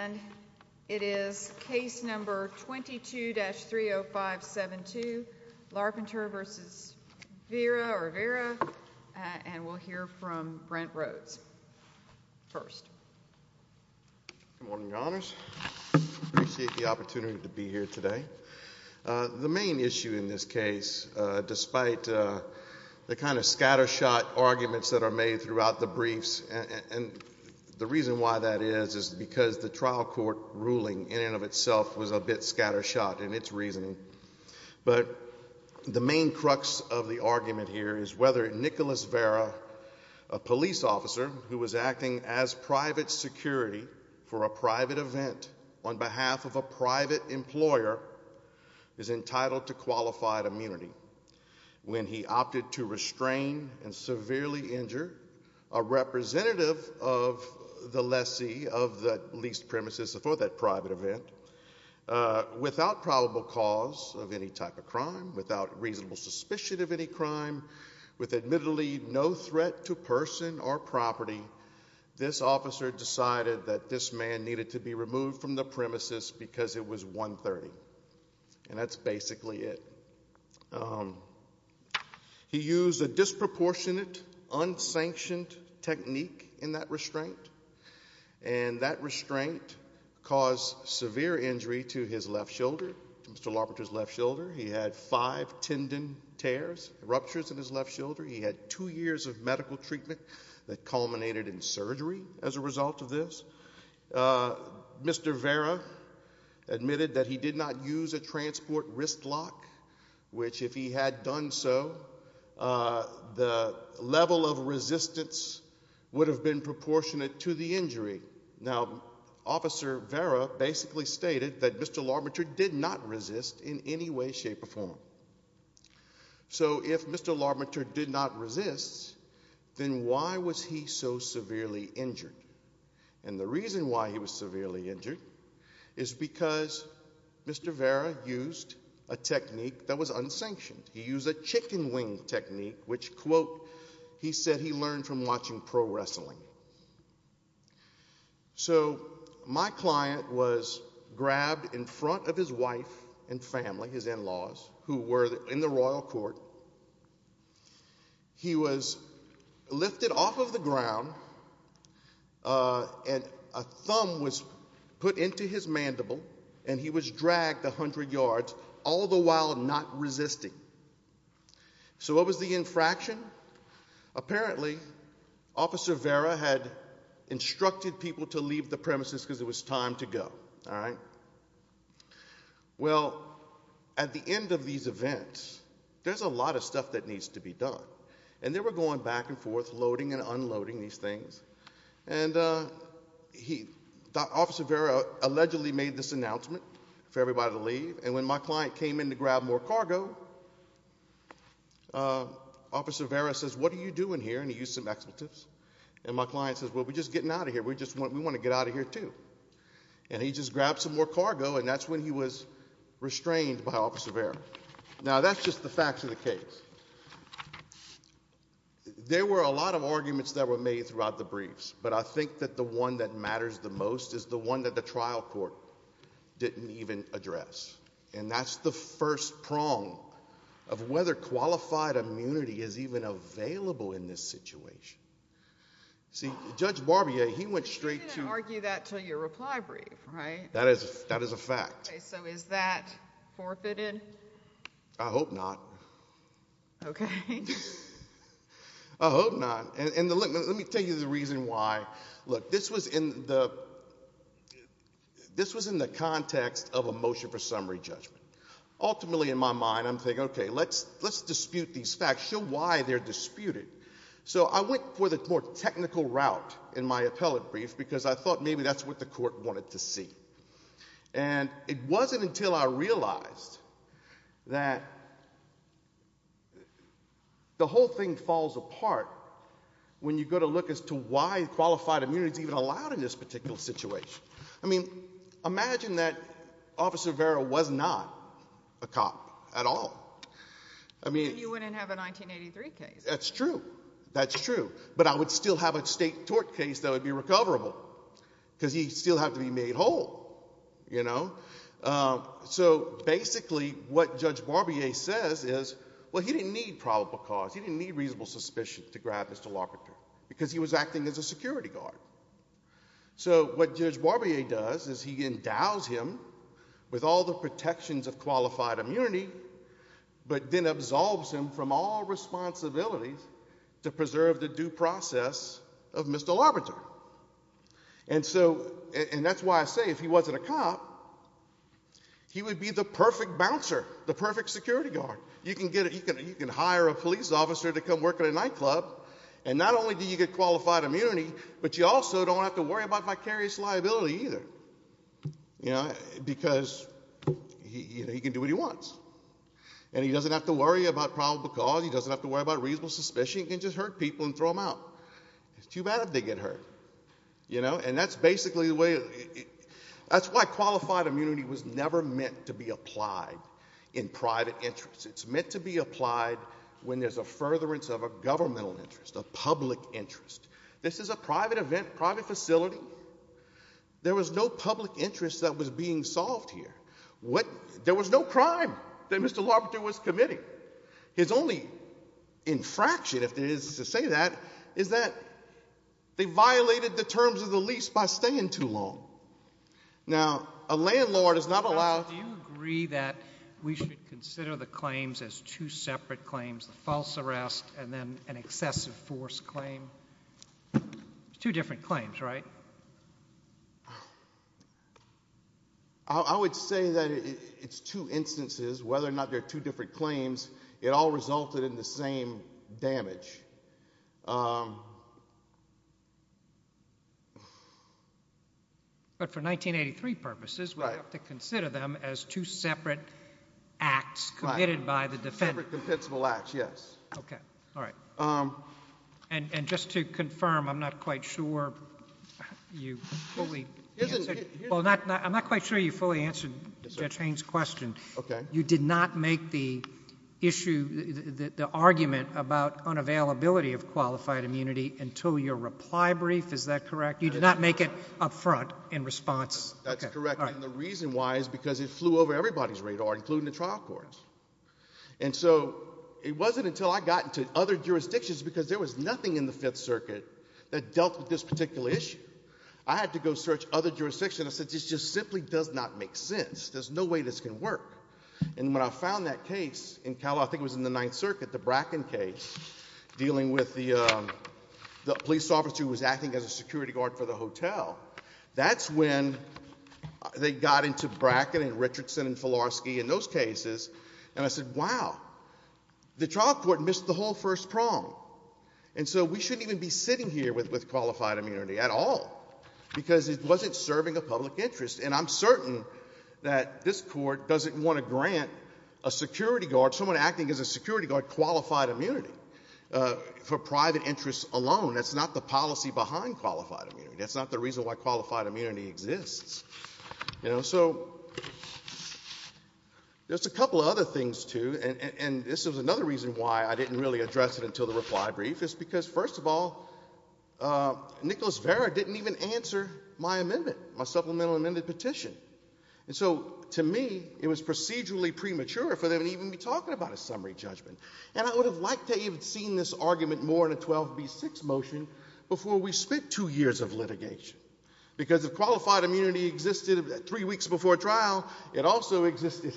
And it is case number 22-30572, Larpenter v. Vera, and we'll hear from Brent Rhodes first. Good morning, Your Honors. I appreciate the opportunity to be here today. The main issue in this case, despite the kind of scattershot arguments that are made throughout the briefs, and the reason why that is is because the trial court ruling in and of itself was a bit scattershot in its reasoning, but the main crux of the argument here is whether Nicholas Vera, a police officer who was acting as private security for a private event on behalf of a private employer, is entitled to qualified immunity. When he opted to restrain and severely injure a representative of the lessee of the leased premises for that private event, without probable cause of any type of crime, without reasonable suspicion of any crime, with admittedly no threat to person or property, this officer decided that this man needed to be removed from the premises because it was 1-30, and that's basically it. He used a disproportionate, unsanctioned technique in that restraint, and that restraint caused severe injury to his left shoulder, to Mr. Larpenter's left shoulder. He had five tendon tears, ruptures in his left shoulder. He had two years of medical treatment that culminated in surgery as a result of this. Mr. Vera admitted that he did not use a transport wrist lock, which if he had done so, the level of resistance would have been proportionate to the injury. Now, Officer Vera basically stated that Mr. Larpenter did not resist in any way, shape, or form. So if Mr. Larpenter did not resist, then why was he so severely injured? And the reason why he was severely injured is because Mr. Vera used a technique that was unsanctioned. He used a chicken wing technique, which, quote, he said he learned from watching pro wrestling. So my client was grabbed in front of his wife and family, his in-laws, who were in the royal court. He was lifted off of the ground, and a thumb was put into his mandible, and he was dragged 100 yards, all the while not resisting. So what was the infraction? Apparently, Officer Vera had instructed people to leave the premises because it was time to go. Well, at the end of these events, there's a lot of stuff that needs to be done, and they were going back and forth, loading and unloading these things. And Officer Vera allegedly made this announcement for everybody to leave, and when my client came in to grab more cargo, Officer Vera says, What are you doing here? And he used some expletives. And my client says, Well, we're just getting out of here. We want to get out of here too. And he just grabbed some more cargo, and that's when he was restrained by Officer Vera. Now, that's just the facts of the case. There were a lot of arguments that were made throughout the briefs, but I think that the one that matters the most is the one that the trial court didn't even address, and that's the first prong of whether qualified immunity is even available in this situation. See, Judge Barbier, he went straight to— You didn't argue that until your reply brief, right? That is a fact. Okay, so is that forfeited? I hope not. Okay. I hope not. And let me tell you the reason why. Look, this was in the context of a motion for summary judgment. Ultimately, in my mind, I'm thinking, Okay, let's dispute these facts. Show why they're disputed. So I went for the more technical route in my appellate brief because I thought maybe that's what the court wanted to see. And it wasn't until I realized that the whole thing falls apart when you go to look as to why qualified immunity is even allowed in this particular situation. I mean, imagine that Officer Vera was not a cop at all. You wouldn't have a 1983 case. That's true. That's true. But I would still have a state tort case that would be recoverable because he'd still have to be made whole, you know? So basically what Judge Barbier says is, Well, he didn't need probable cause. He didn't need reasonable suspicion to grab Mr. Lockhart because he was acting as a security guard. So what Judge Barbier does is he endows him with all the protections of qualified immunity but then absolves him from all responsibilities to preserve the due process of Mr. Labrador. And that's why I say if he wasn't a cop, he would be the perfect bouncer, the perfect security guard. You can hire a police officer to come work at a nightclub, and not only do you get qualified immunity, but you also don't have to worry about vicarious liability either because he can do what he wants. And he doesn't have to worry about probable cause. He doesn't have to worry about reasonable suspicion. He can just hurt people and throw them out. It's too bad if they get hurt. And that's basically the way it is. That's why qualified immunity was never meant to be applied in private interests. It's meant to be applied when there's a furtherance of a governmental interest, a public interest. This is a private event, private facility. There was no public interest that was being solved here. There was no crime that Mr. Labrador was committing. His only infraction, if there is to say that, is that they violated the terms of the lease by staying too long. Now, a landlord is not allowed— Do you agree that we should consider the claims as two separate claims, the false arrest and then an excessive force claim? Two different claims, right? I would say that it's two instances. Whether or not they're two different claims, it all resulted in the same damage. But for 1983 purposes, we have to consider them as two separate acts committed by the defendant. Separate, compensable acts, yes. Okay, all right. And just to confirm, I'm not quite sure you fully answered Judge Haynes' question. You did not make the argument about unavailability of qualified immunity until your reply brief, is that correct? You did not make it up front in response? That's correct, and the reason why is because it flew over everybody's radar, including the trial courts. And so it wasn't until I got into other jurisdictions, because there was nothing in the Fifth Circuit that dealt with this particular issue, I had to go search other jurisdictions. I said, this just simply does not make sense. There's no way this can work. And when I found that case in Cal, I think it was in the Ninth Circuit, the Bracken case, dealing with the police officer who was acting as a security guard for the hotel, that's when they got into Bracken and Richardson and Filarski and those cases, and I said, wow, the trial court missed the whole first prong. And so we shouldn't even be sitting here with qualified immunity at all, because it wasn't serving a public interest. And I'm certain that this Court doesn't want to grant a security guard, someone acting as a security guard, qualified immunity for private interests alone. That's not the policy behind qualified immunity. That's not the reason why qualified immunity exists. So there's a couple of other things, too, and this is another reason why I didn't really address it until the reply brief, is because, first of all, Nicholas Vara didn't even answer my amendment, my supplemental amended petition. And so, to me, it was procedurally premature for them to even be talking about a summary judgment. And I would have liked to have even seen this argument more in a 12b6 motion before we spent two years of litigation, because if qualified immunity existed three weeks before trial, it also existed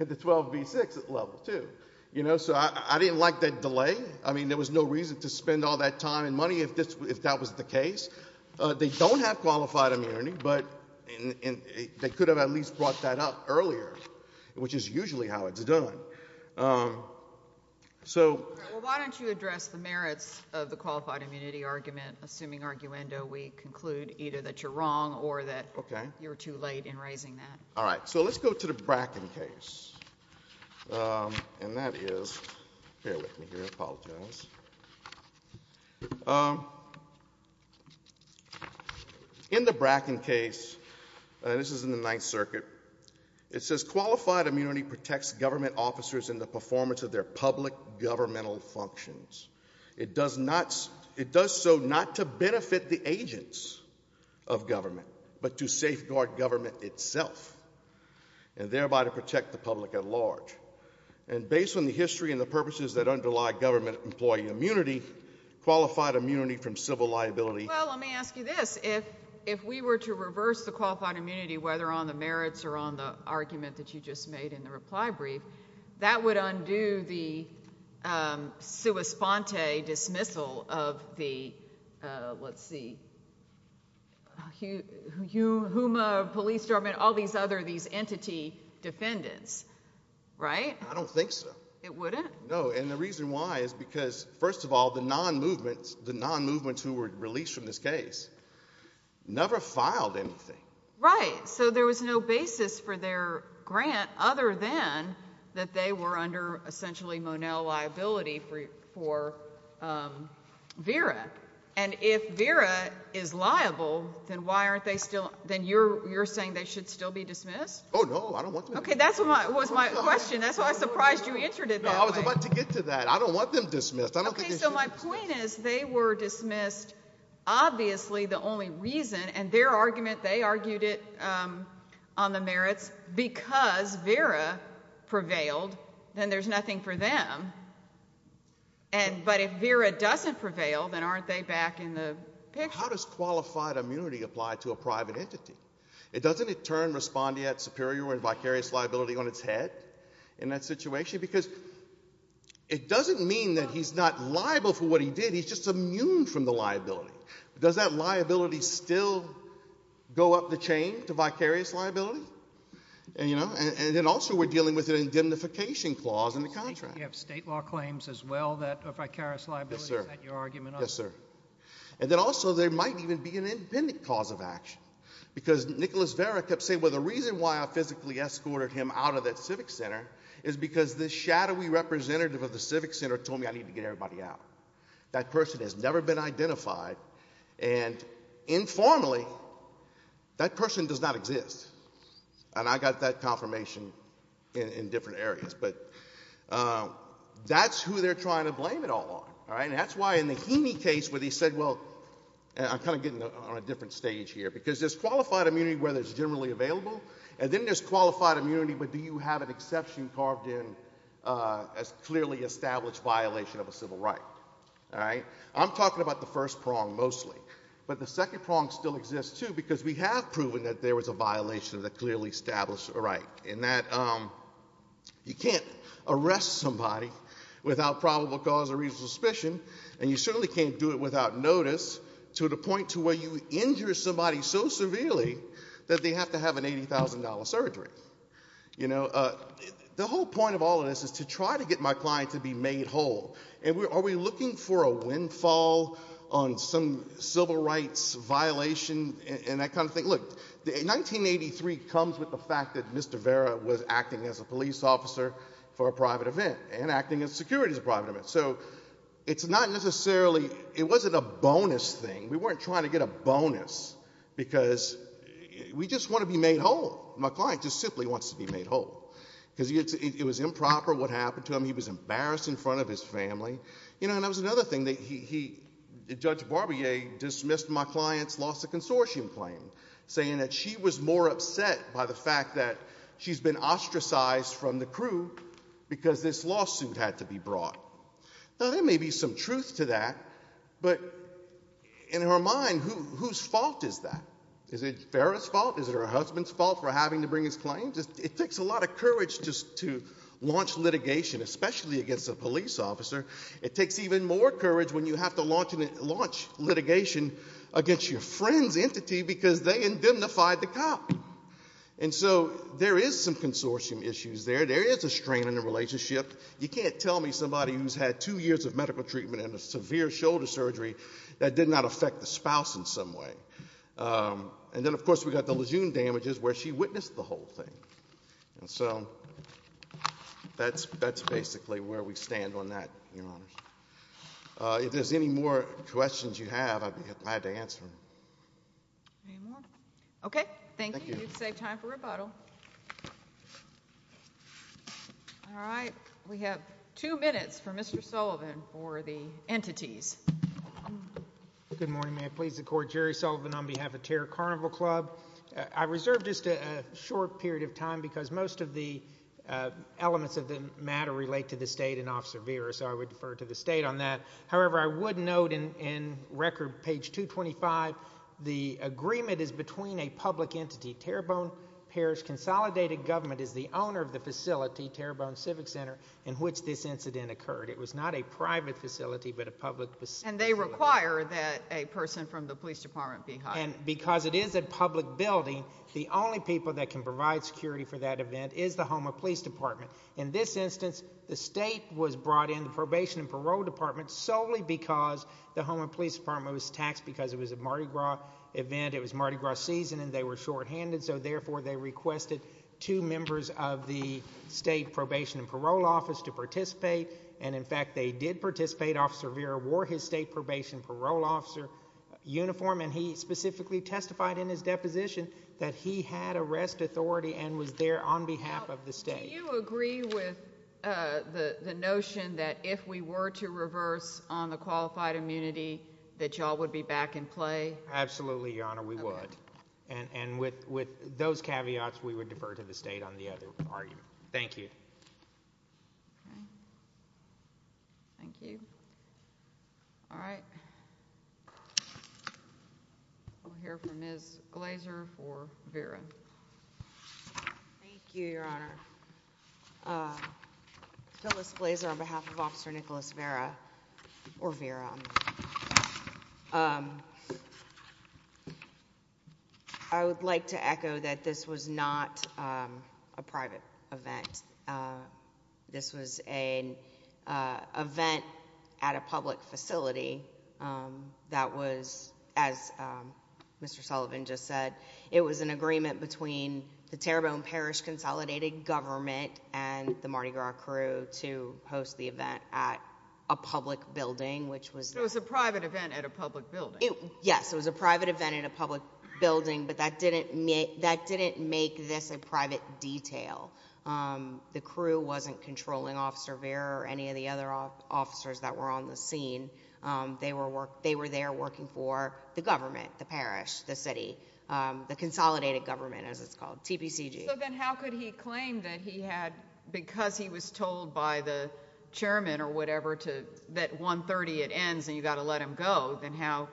at the 12b6 level, too. So I didn't like that delay. I mean, there was no reason to spend all that time and money if that was the case. They don't have qualified immunity, but they could have at least brought that up earlier, which is usually how it's done. So why don't you address the merits of the qualified immunity argument, assuming, arguendo, we conclude either that you're wrong or that you're too late in raising that. All right. So let's go to the Bracken case, and that is, bear with me here, I apologize. In the Bracken case, this is in the Ninth Circuit, it says qualified immunity protects government officers in the performance of their public governmental functions. It does so not to benefit the agents of government, but to safeguard government itself and thereby to protect the public at large. And based on the history and the purposes that underlie government employee immunity, qualified immunity from civil liability. Well, let me ask you this. If we were to reverse the qualified immunity, whether on the merits or on the argument that you just made in the reply brief, that would undo the sua sponte dismissal of the, let's see, HUMA police department, all these other, these entity defendants, right? I don't think so. It wouldn't? No, and the reason why is because, first of all, the non-movements who were released from this case never filed anything. Right, so there was no basis for their grant other than that they were under, essentially, Monell liability for Vera. And if Vera is liable, then why aren't they still, then you're saying they should still be dismissed? Oh, no, I don't want them to be dismissed. Okay, that was my question. That's why I surprised you answered it that way. No, I was about to get to that. I don't want them dismissed. I don't think they should be dismissed. Okay, so my point is they were dismissed, obviously, the only reason, and their argument, they argued it on the merits. Because Vera prevailed, then there's nothing for them. But if Vera doesn't prevail, then aren't they back in the picture? How does qualified immunity apply to a private entity? Doesn't it turn respondeat superior and vicarious liability on its head in that situation? Because it doesn't mean that he's not liable for what he did. He's just immune from the liability. Does that liability still go up the chain to vicarious liability? And then also we're dealing with an indemnification clause in the contract. You have state law claims as well that are vicarious liability. Is that your argument on that? Yes, sir. And then also there might even be an independent cause of action. Because Nicholas Vera kept saying, well, the reason why I physically escorted him out of that civic center is because the shadowy representative of the civic center told me I needed to get everybody out. That person has never been identified. And informally, that person does not exist. And I got that confirmation in different areas. But that's who they're trying to blame it all on. And that's why in the Heaney case where they said, well, I'm kind of getting on a different stage here, because there's qualified immunity where it's generally available, and then there's qualified immunity. But do you have an exception carved in as clearly established violation of a civil right? All right? I'm talking about the first prong mostly. But the second prong still exists, too, because we have proven that there was a violation of the clearly established right, in that you can't arrest somebody without probable cause or reasonable suspicion, and you certainly can't do it without notice to the point to where you injure somebody so severely that they have to have an $80,000 surgery. The whole point of all of this is to try to get my client to be made whole. And are we looking for a windfall on some civil rights violation and that kind of thing? Look, 1983 comes with the fact that Mr. Vera was acting as a police officer for a private event and acting as security at a private event. So it's not necessarily ñ it wasn't a bonus thing. We weren't trying to get a bonus because we just want to be made whole. My client just simply wants to be made whole because it was improper what happened to him. He was embarrassed in front of his family. You know, and that was another thing. Judge Barbier dismissed my client's lawsuit consortium claim, saying that she was more upset by the fact that she's been ostracized from the crew because this lawsuit had to be brought. Now, there may be some truth to that, but in her mind, whose fault is that? Is it Vera's fault? Is it her husband's fault for having to bring his claim? It takes a lot of courage just to launch litigation, especially against a police officer. It takes even more courage when you have to launch litigation against your friend's entity because they indemnified the cop. And so there is some consortium issues there. There is a strain on the relationship. You can't tell me somebody who's had two years of medical treatment and a severe shoulder surgery that did not affect the spouse in some way. And then, of course, we've got the Lejeune damages where she witnessed the whole thing. And so that's basically where we stand on that, Your Honors. If there's any more questions you have, I'd be glad to answer them. Any more? Okay, thank you. You've saved time for rebuttal. All right, we have two minutes for Mr. Sullivan for the entities. Good morning. May it please the Court, Jerry Sullivan on behalf of Terror Carnival Club. I reserve just a short period of time because most of the elements of the matter relate to the state and Officer Vera, so I would defer to the state on that. However, I would note in record, page 225, the agreement is between a public entity, Terrebonne Parish Consolidated Government is the owner of the facility, Terrebonne Civic Center, in which this incident occurred. It was not a private facility but a public facility. And they require that a person from the police department be hired. And because it is a public building, the only people that can provide security for that event is the Houma Police Department. In this instance, the state was brought in, the Probation and Parole Department, solely because the Houma Police Department was taxed because it was a Mardi Gras event, it was Mardi Gras season, and they were shorthanded, so therefore they requested two members of the state Probation and Parole Office to participate. And, in fact, they did participate. Officer Vera wore his state Probation and Parole Officer uniform, and he specifically testified in his deposition that he had arrest authority and was there on behalf of the state. Do you agree with the notion that if we were to reverse on the qualified immunity that you all would be back in play? Absolutely, Your Honor, we would. And with those caveats, we would defer to the state on the other argument. Thank you. Okay. Thank you. All right. We'll hear from Ms. Glazer for Vera. Thank you, Your Honor. Phyllis Glazer on behalf of Officer Nicholas Vera, or Vera. I would like to echo that this was not a private event. This was an event at a public facility that was, as Mr. Sullivan just said, it was an agreement between the Terrebonne Parish Consolidated Government and the Mardi Gras crew to host the event at a public building, which was... So it was a private event at a public building. Yes, it was a private event at a public building, but that didn't make this a private detail. The crew wasn't controlling Officer Vera or any of the other officers that were on the scene. They were there working for the government, the parish, the city, the Consolidated Government, as it's called, TPCG. So then how could he claim that he had, because he was told by the chairman or whatever that 1.30 it ends and you've got to let him go, then how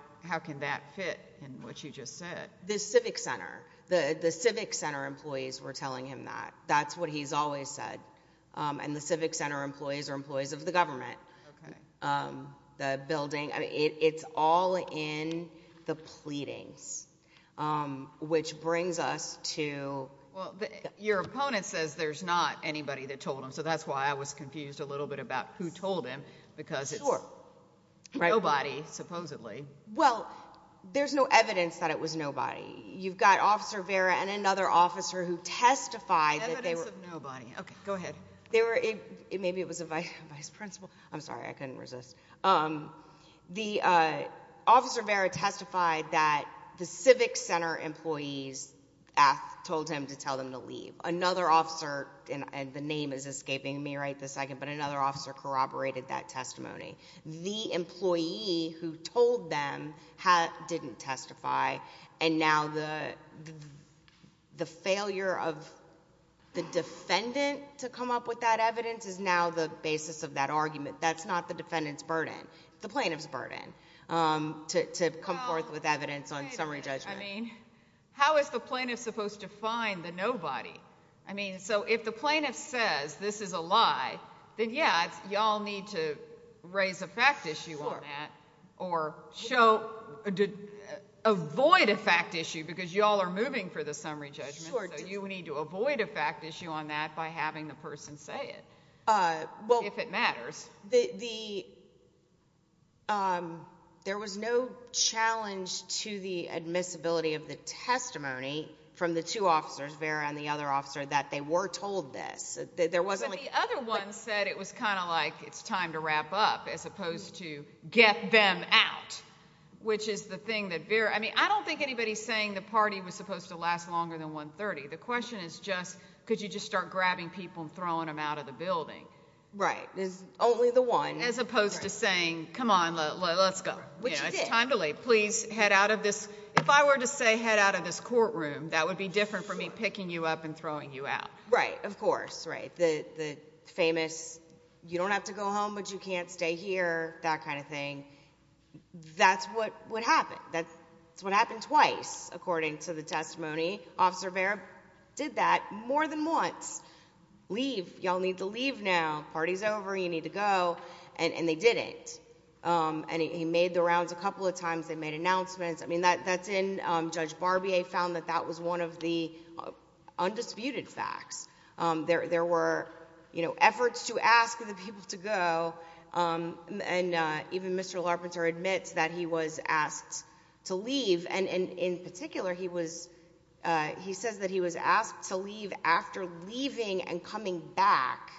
can that fit in what you just said? The Civic Center. The Civic Center employees were telling him that. That's what he's always said, and the Civic Center employees are employees of the government. It's all in the pleadings, which brings us to... Well, your opponent says there's not anybody that told him, so that's why I was confused a little bit about who told him, because it's nobody, supposedly. Well, there's no evidence that it was nobody. You've got Officer Vera and another officer who testified that they were... Evidence of nobody. Okay, go ahead. Maybe it was a vice principal. I'm sorry, I couldn't resist. Officer Vera testified that the Civic Center employees told him to tell them to leave. Another officer, and the name is escaping me right this second, but another officer corroborated that testimony. The employee who told them didn't testify, and now the failure of the defendant to come up with that evidence is now the basis of that argument. That's not the defendant's burden. It's the plaintiff's burden to come forth with evidence on summary judgment. How is the plaintiff supposed to find the nobody? I mean, so if the plaintiff says this is a lie, then, yeah, y'all need to raise a fact issue on that... Sure.... or show... avoid a fact issue, because y'all are moving for the summary judgment. Sure. So you need to avoid a fact issue on that by having the person say it, if it matters. There was no challenge to the admissibility of the testimony from the two officers, Vera and the other officer, that they were told this. The other one said it was kind of like, it's time to wrap up, as opposed to get them out, which is the thing that Vera... I mean, I don't think anybody's saying the party was supposed to last longer than 1.30. The question is just, could you just start grabbing people and throwing them out of the building? Right. Only the one. As opposed to saying, come on, let's go. Which you did. It's time to leave. Please head out of this... if I were to say, head out of this courtroom, that would be different from me picking you up and throwing you out. Right. Of course. Right. The famous, you don't have to go home, but you can't stay here, that kind of thing. That's what happened. That's what happened twice, according to the testimony. Officer Vera did that more than once. Leave. Y'all need to leave now. Party's over. You need to go. And, they didn't. And, he made the rounds a couple of times. They made announcements. I mean, that's in... Judge Barbier found that that was one of the undisputed facts. There were, you know, efforts to ask the people to go. And, even Mr. Larpenter admits that he was asked to leave. And, in particular, he says that he was asked to leave after leaving and coming back.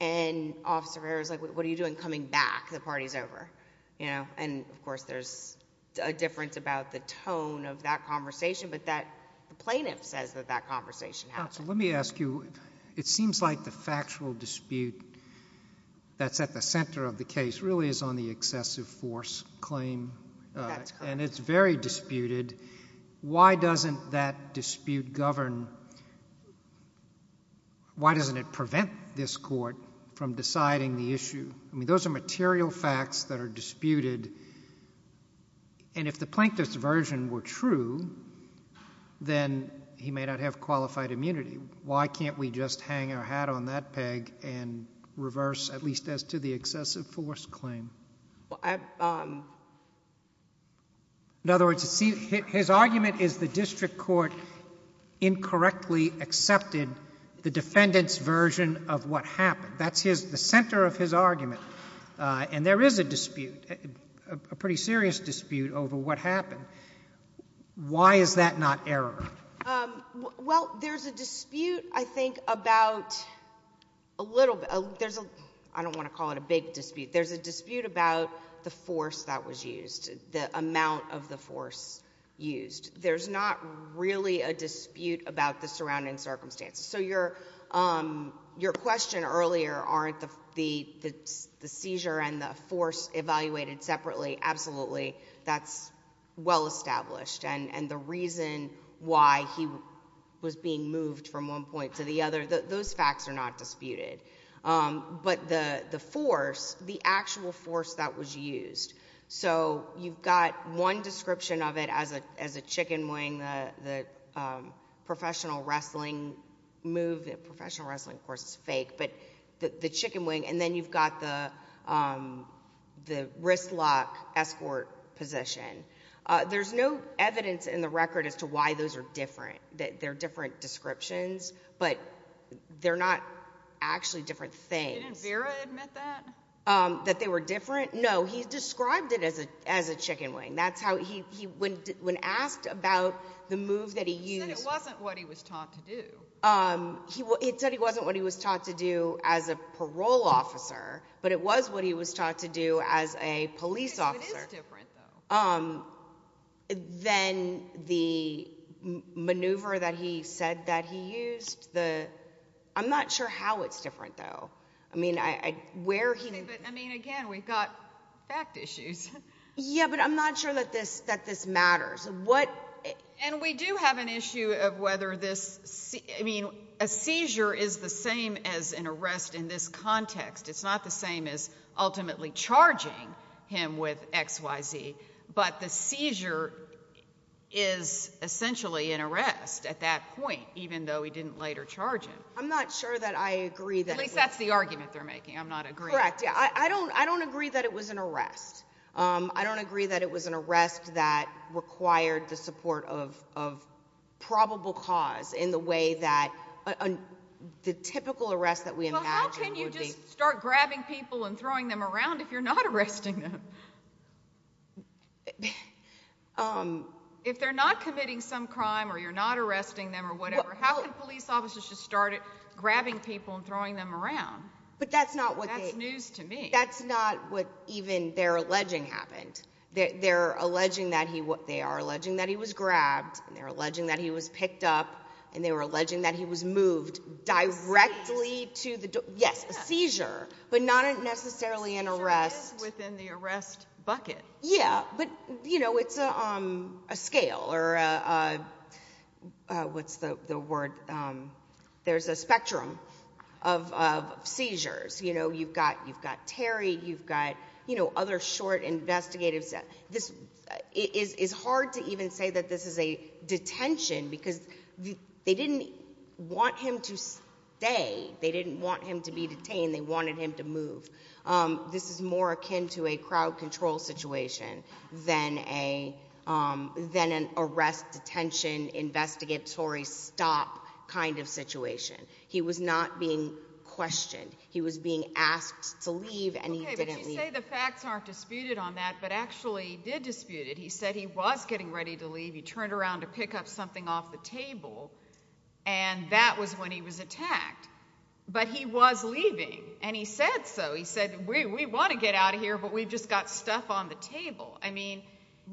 And, Officer Vera's like, what are you doing coming back? The party's over. You know? And, of course, there's a difference about the tone of that conversation. But, the plaintiff says that that conversation happened. Counsel, let me ask you. It seems like the factual dispute that's at the center of the case really is on the excessive force claim. That's correct. And, it's very disputed. Why doesn't that dispute govern... Why doesn't it prevent this court from deciding the issue? I mean, those are material facts that are disputed. And, if the plaintiff's version were true, then he may not have qualified immunity. Why can't we just hang our hat on that peg and reverse, at least as to the excessive force claim? In other words, his argument is the district court incorrectly accepted the defendant's version of what happened. That's the center of his argument. And, there is a dispute, a pretty serious dispute over what happened. Why is that not error? Well, there's a dispute, I think, about a little... I don't want to call it a big dispute. There's a dispute about the force that was used, the amount of the force used. There's not really a dispute about the surrounding circumstances. So, your question earlier, aren't the seizure and the force evaluated separately? Absolutely, that's well established. And, the reason why he was being moved from one point to the other, those facts are not disputed. But, the force, the actual force that was used. So, you've got one description of it as a chicken wing, the professional wrestling move. Professional wrestling, of course, is fake. But, the chicken wing, and then you've got the wrist lock escort position. There's no evidence in the record as to why those are different. They're different descriptions, but they're not actually different things. Didn't Vera admit that? That they were different? No, he described it as a chicken wing. That's how he... when asked about the move that he used... He said it wasn't what he was taught to do. He said it wasn't what he was taught to do as a parole officer, but it was what he was taught to do as a police officer. It is different, though. Then, the maneuver that he said that he used, the... I'm not sure how it's different, though. I mean, where he... I mean, again, we've got fact issues. Yeah, but I'm not sure that this matters. And, we do have an issue of whether this... I mean, a seizure is the same as an arrest in this context. It's not the same as ultimately charging him with X, Y, Z. But, the seizure is essentially an arrest at that point, even though he didn't later charge him. I'm not sure that I agree that... At least that's the argument they're making. I'm not agreeing. Correct, yeah. I don't agree that it was an arrest. I don't agree that it was an arrest that required the support of probable cause in the way that... The typical arrest that we imagine would be... Well, how can you just start grabbing people and throwing them around if you're not arresting them? If they're not committing some crime or you're not arresting them or whatever... How can police officers just start grabbing people and throwing them around? But, that's not what they... That's news to me. That's not what even they're alleging happened. They're alleging that he... They are alleging that he was grabbed. They're alleging that he was picked up. And, they were alleging that he was moved directly to the... Seizure? Yes, a seizure, but not necessarily an arrest. A seizure is within the arrest bucket. Yeah, but it's a scale or a... What's the word? There's a spectrum of seizures. You've got Terry. You've got other short investigative... It's hard to even say that this is a detention because they didn't want him to stay. They didn't want him to be detained. They wanted him to move. This is more akin to a crowd control situation than an arrest, detention, investigatory stop kind of situation. He was not being questioned. Okay, but you say the facts aren't disputed on that, but actually he did dispute it. He said he was getting ready to leave. He turned around to pick up something off the table, and that was when he was attacked. But, he was leaving, and he said so. He said, we want to get out of here, but we've just got stuff on the table. I mean,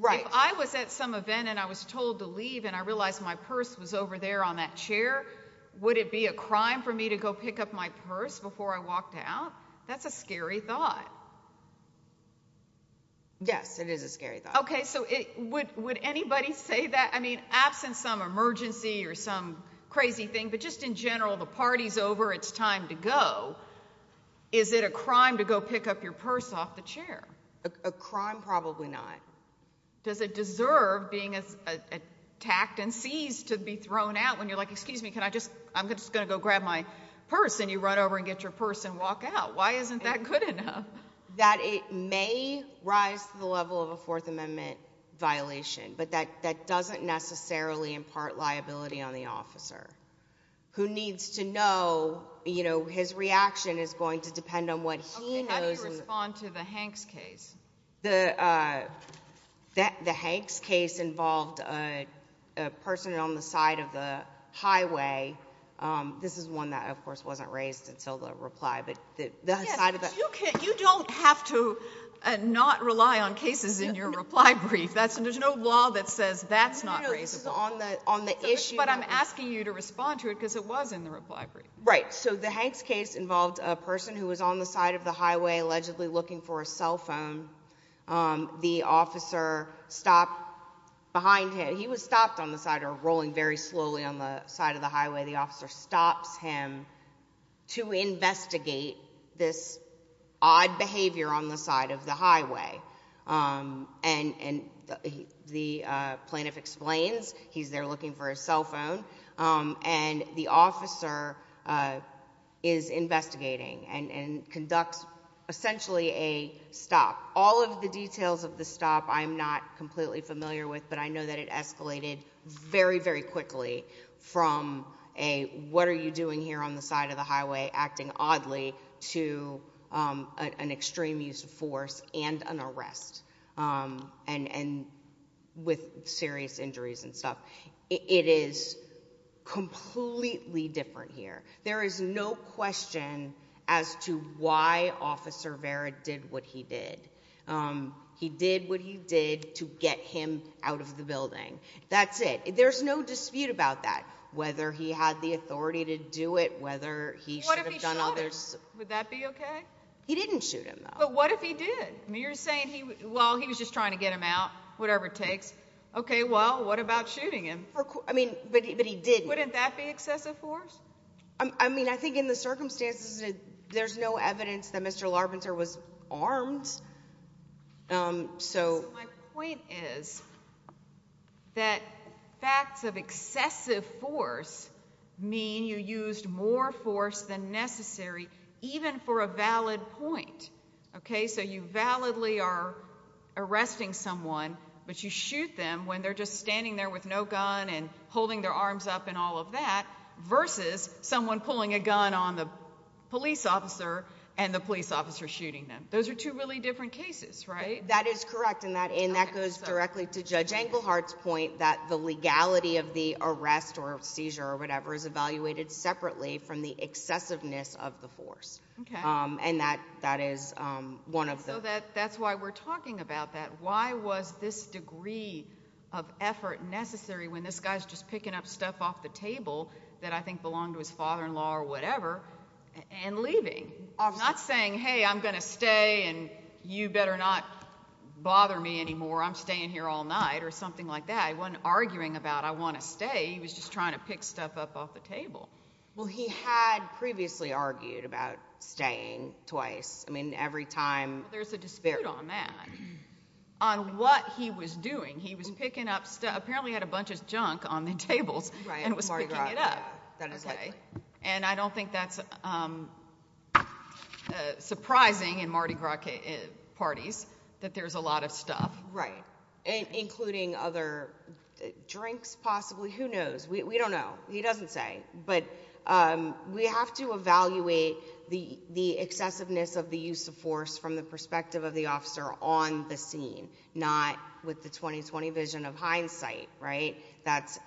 if I was at some event, and I was told to leave, and I realized my purse was over there on that chair, would it be a crime for me to go pick up my purse before I walked out? That's a scary thought. Yes, it is a scary thought. Okay, so would anybody say that? I mean, absent some emergency or some crazy thing, but just in general, the party's over. It's time to go. Is it a crime to go pick up your purse off the chair? A crime? Probably not. Does it deserve being attacked and seized to be thrown out when you're like, excuse me, I'm just going to go grab my purse, and you run over and get your purse and walk out? Why isn't that good enough? That it may rise to the level of a Fourth Amendment violation, but that doesn't necessarily impart liability on the officer, who needs to know his reaction is going to depend on what he knows. How do you respond to the Hanks case? The Hanks case involved a person on the side of the highway. This is one that, of course, wasn't raised until the reply. You don't have to not rely on cases in your reply brief. There's no law that says that's not raisable. No, no, this is on the issue. But I'm asking you to respond to it because it was in the reply brief. Right, so the Hanks case involved a person who was on the side of the highway allegedly looking for a cell phone. The officer stopped behind him. He was stopped on the side or rolling very slowly on the side of the highway. The officer stops him to investigate this odd behavior on the side of the highway. And the plaintiff explains he's there looking for a cell phone, and the officer is investigating and conducts essentially a stop. All of the details of the stop I'm not completely familiar with, but I know that it escalated very, very quickly from a what are you doing here on the side of the highway acting oddly to an extreme use of force and an arrest with serious injuries and stuff. It is completely different here. There is no question as to why Officer Vera did what he did. He did what he did to get him out of the building. That's it. There's no dispute about that, whether he had the authority to do it, whether he should have done other— What if he shot him? Would that be okay? He didn't shoot him, though. But what if he did? You're saying, well, he was just trying to get him out, whatever it takes. Okay, well, what about shooting him? I mean, but he didn't. Wouldn't that be excessive force? I mean, I think in the circumstances, there's no evidence that Mr. Larpenter was armed. My point is that facts of excessive force mean you used more force than necessary, even for a valid point. Okay, so you validly are arresting someone, but you shoot them when they're just standing there with no gun and holding their arms up and all of that, versus someone pulling a gun on the police officer and the police officer shooting them. Those are two really different cases, right? That is correct, and that goes directly to Judge Englehart's point that the legality of the arrest or seizure or whatever is evaluated separately from the excessiveness of the force. Okay. And that is one of them. So that's why we're talking about that. Why was this degree of effort necessary when this guy's just picking up stuff off the table that I think belonged to his father-in-law or whatever and leaving? I'm not saying, hey, I'm going to stay and you better not bother me anymore. I'm staying here all night or something like that. He wasn't arguing about I want to stay. He was just trying to pick stuff up off the table. Well, he had previously argued about staying twice. I mean, every time. There's a dispute on that, on what he was doing. He was picking up stuff. Apparently he had a bunch of junk on the tables and was picking it up. And I don't think that's surprising in Mardi Gras parties that there's a lot of stuff. Right, including other drinks possibly. Who knows? We don't know. He doesn't say. But we have to evaluate the excessiveness of the use of force from the perspective of the officer on the scene, not with the 20-20 vision of hindsight, right? That's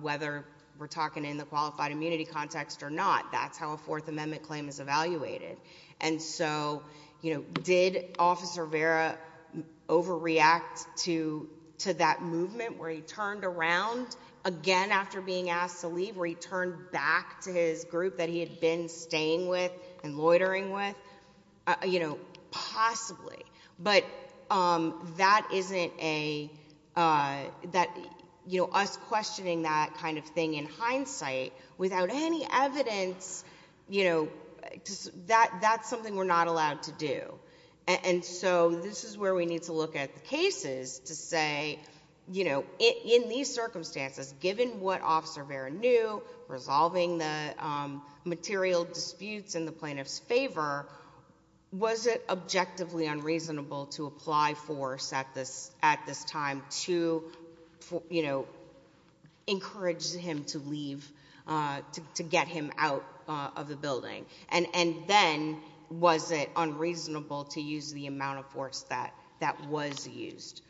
whether we're talking in the qualified immunity context or not. That's how a Fourth Amendment claim is evaluated. And so did Officer Vera overreact to that movement where he turned around again after being asked to leave, where he turned back to his group that he had been staying with and loitering with? Possibly. But us questioning that kind of thing in hindsight without any evidence, that's something we're not allowed to do. And so this is where we need to look at the cases to say, in these circumstances, given what Officer Vera knew, resolving the material disputes in the plaintiff's favor, was it objectively unreasonable to apply force at this time to encourage him to leave, to get him out of the building? And then was it unreasonable to use the amount of force that was used?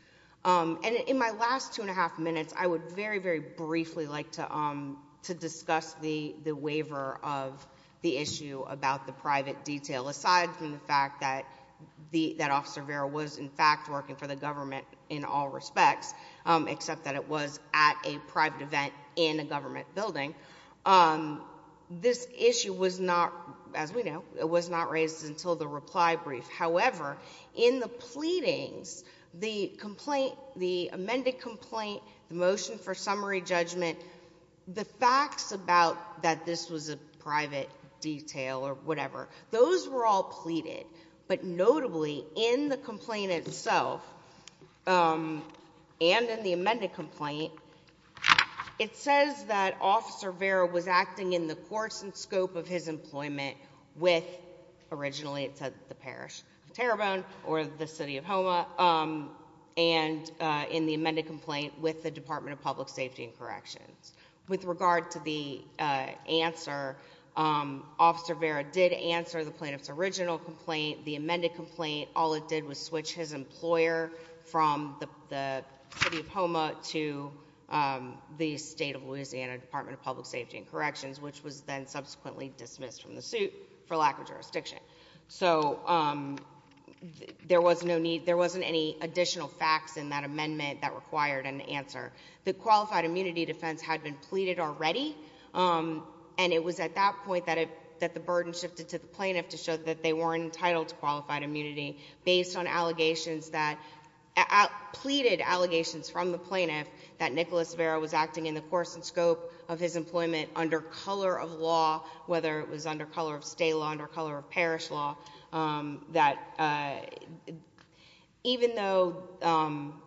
And in my last two and a half minutes, I would very, very briefly like to discuss the waiver of the issue about the private detail. Aside from the fact that Officer Vera was, in fact, working for the government in all respects, except that it was at a private event in a government building, this issue was not, as we know, it was not raised until the reply brief. However, in the pleadings, the amended complaint, the motion for summary judgment, the facts about that this was a private detail or whatever, those were all pleaded. But notably, in the complaint itself and in the amended complaint, it says that Officer Vera was acting in the course and scope of his employment with, originally it said the parish of Terrebonne or the city of Houma, and in the amended complaint with the Department of Public Safety and Corrections. With regard to the answer, Officer Vera did answer the plaintiff's original complaint, the amended complaint. All it did was switch his employer from the city of Houma to the state of Louisiana, Department of Public Safety and Corrections, which was then subsequently dismissed from the suit for lack of jurisdiction. So there was no need, there wasn't any additional facts in that amendment that required an answer. The qualified immunity defense had been pleaded already, and it was at that point that the burden shifted to the plaintiff to show that they weren't entitled to qualified immunity based on allegations that, pleaded allegations from the plaintiff that Nicholas Vera was acting in the course and scope of his employment under color of law, whether it was under color of state law, under color of parish law, that even though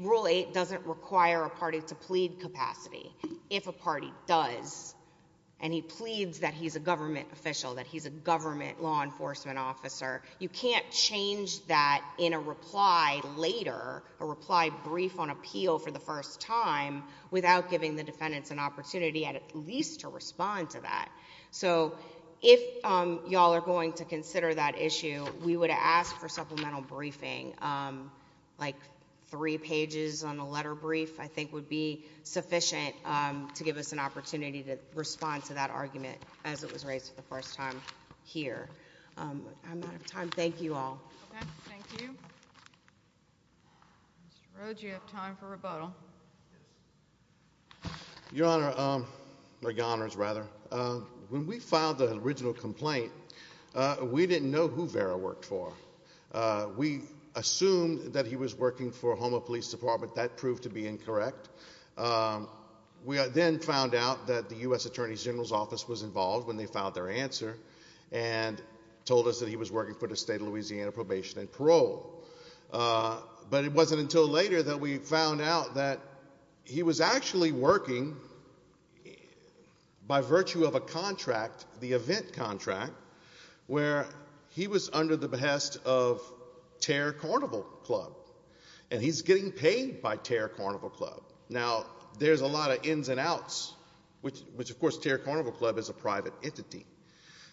Rule 8 doesn't require a party to plead capacity, if a party does, and he pleads that he's a government official, that he's a government law enforcement officer, you can't change that in a reply later, a reply brief on appeal for the first time, without giving the defendants an opportunity at least to respond to that. So if you all are going to consider that issue, we would ask for supplemental briefing, like three pages on a letter brief I think would be sufficient to give us an opportunity to respond to that argument as it was raised for the first time here. I'm out of time. Thank you all. Okay. Thank you. Mr. Rhodes, you have time for rebuttal. Your Honor, or your Honors rather, when we filed the original complaint, we didn't know who Vera worked for. We assumed that he was working for the Houma Police Department. That proved to be incorrect. We then found out that the U.S. Attorney General's Office was involved when they filed their answer and told us that he was working for the state of Louisiana probation and parole. But it wasn't until later that we found out that he was actually working by virtue of a contract, the event contract, where he was under the behest of Terre Carnival Club, and he's getting paid by Terre Carnival Club. Now, there's a lot of ins and outs, which of course Terre Carnival Club is a private entity.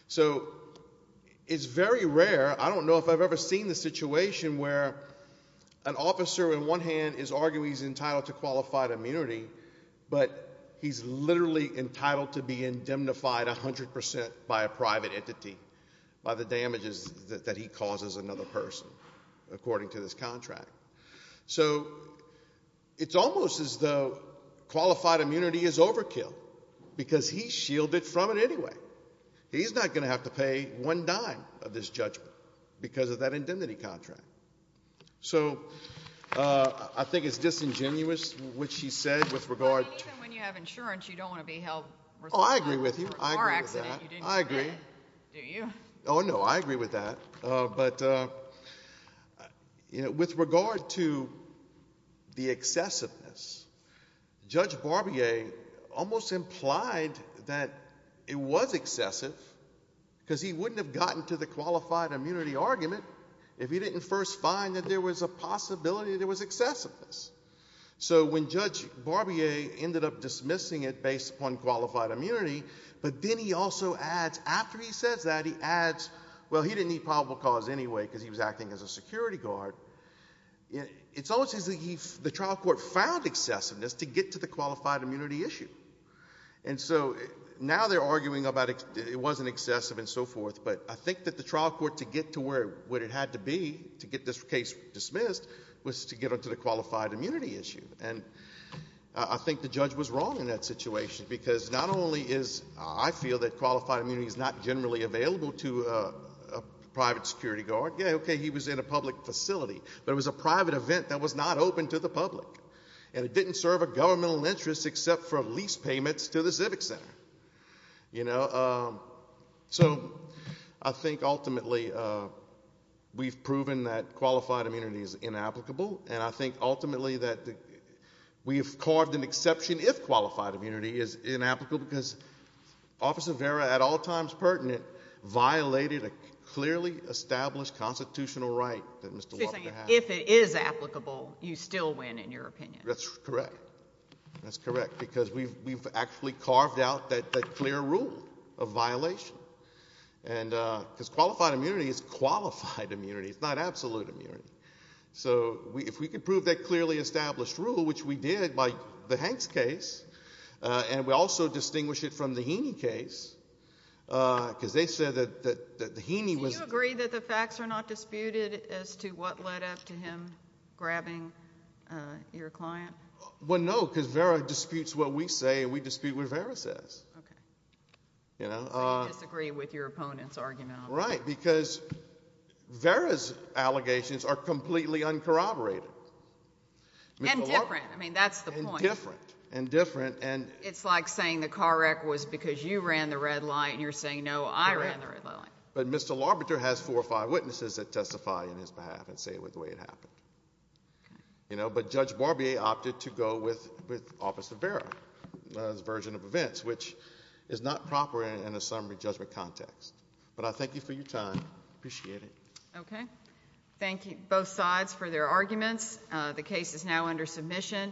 So it's very rare. I don't know if I've ever seen the situation where an officer in one hand is arguing he's entitled to qualified immunity, but he's literally entitled to be indemnified 100 percent by a private entity by the damages that he causes another person, according to this contract. So it's almost as though qualified immunity is overkill because he's shielded from it anyway. He's not going to have to pay one dime of this judgment because of that indemnity contract. So I think it's disingenuous what she said with regard to – I mean, even when you have insurance, you don't want to be held responsible for a car accident. Oh, I agree with you. I agree with that. I agree. Do you? Oh, no, I agree with that. But with regard to the excessiveness, Judge Barbier almost implied that it was excessive because he wouldn't have gotten to the qualified immunity argument if he didn't first find that there was a possibility that there was excessiveness. So when Judge Barbier ended up dismissing it based upon qualified immunity, but then he also adds, after he says that, he adds, well, he didn't need probable cause anyway because he was acting as a security guard. It's almost as if the trial court found excessiveness to get to the qualified immunity issue. And so now they're arguing about it wasn't excessive and so forth, but I think that the trial court, to get to where it had to be to get this case dismissed, was to get on to the qualified immunity issue. And I think the judge was wrong in that situation because not only is, I feel, that qualified immunity is not generally available to a private security guard. Yeah, okay, he was in a public facility, but it was a private event that was not open to the public and it didn't serve a governmental interest except for lease payments to the civic center. So I think ultimately we've proven that qualified immunity is inapplicable, and I think ultimately that we've carved an exception if qualified immunity is inapplicable because Officer Vera, at all times pertinent, violated a clearly established constitutional right that Mr. Walker had. If it is applicable, you still win in your opinion. That's correct. That's correct because we've actually carved out that clear rule of violation because qualified immunity is qualified immunity. It's not absolute immunity. So if we could prove that clearly established rule, which we did by the Hanks case, and we also distinguish it from the Heaney case because they said that the Heaney was— Do you agree that the facts are not disputed as to what led up to him grabbing your client? Well, no, because Vera disputes what we say and we dispute what Vera says. Okay. So you disagree with your opponent's argument. Right, because Vera's allegations are completely uncorroborated. And different. I mean, that's the point. And different. It's like saying the car wreck was because you ran the red light and you're saying, no, I ran the red light. But Mr. Larbeter has four or five witnesses that testify on his behalf and say the way it happened. But Judge Barbier opted to go with Officer Vera's version of events, which is not proper in a summary judgment context. But I thank you for your time. Appreciate it. Okay. Thank you, both sides, for their arguments. The case is now under submission.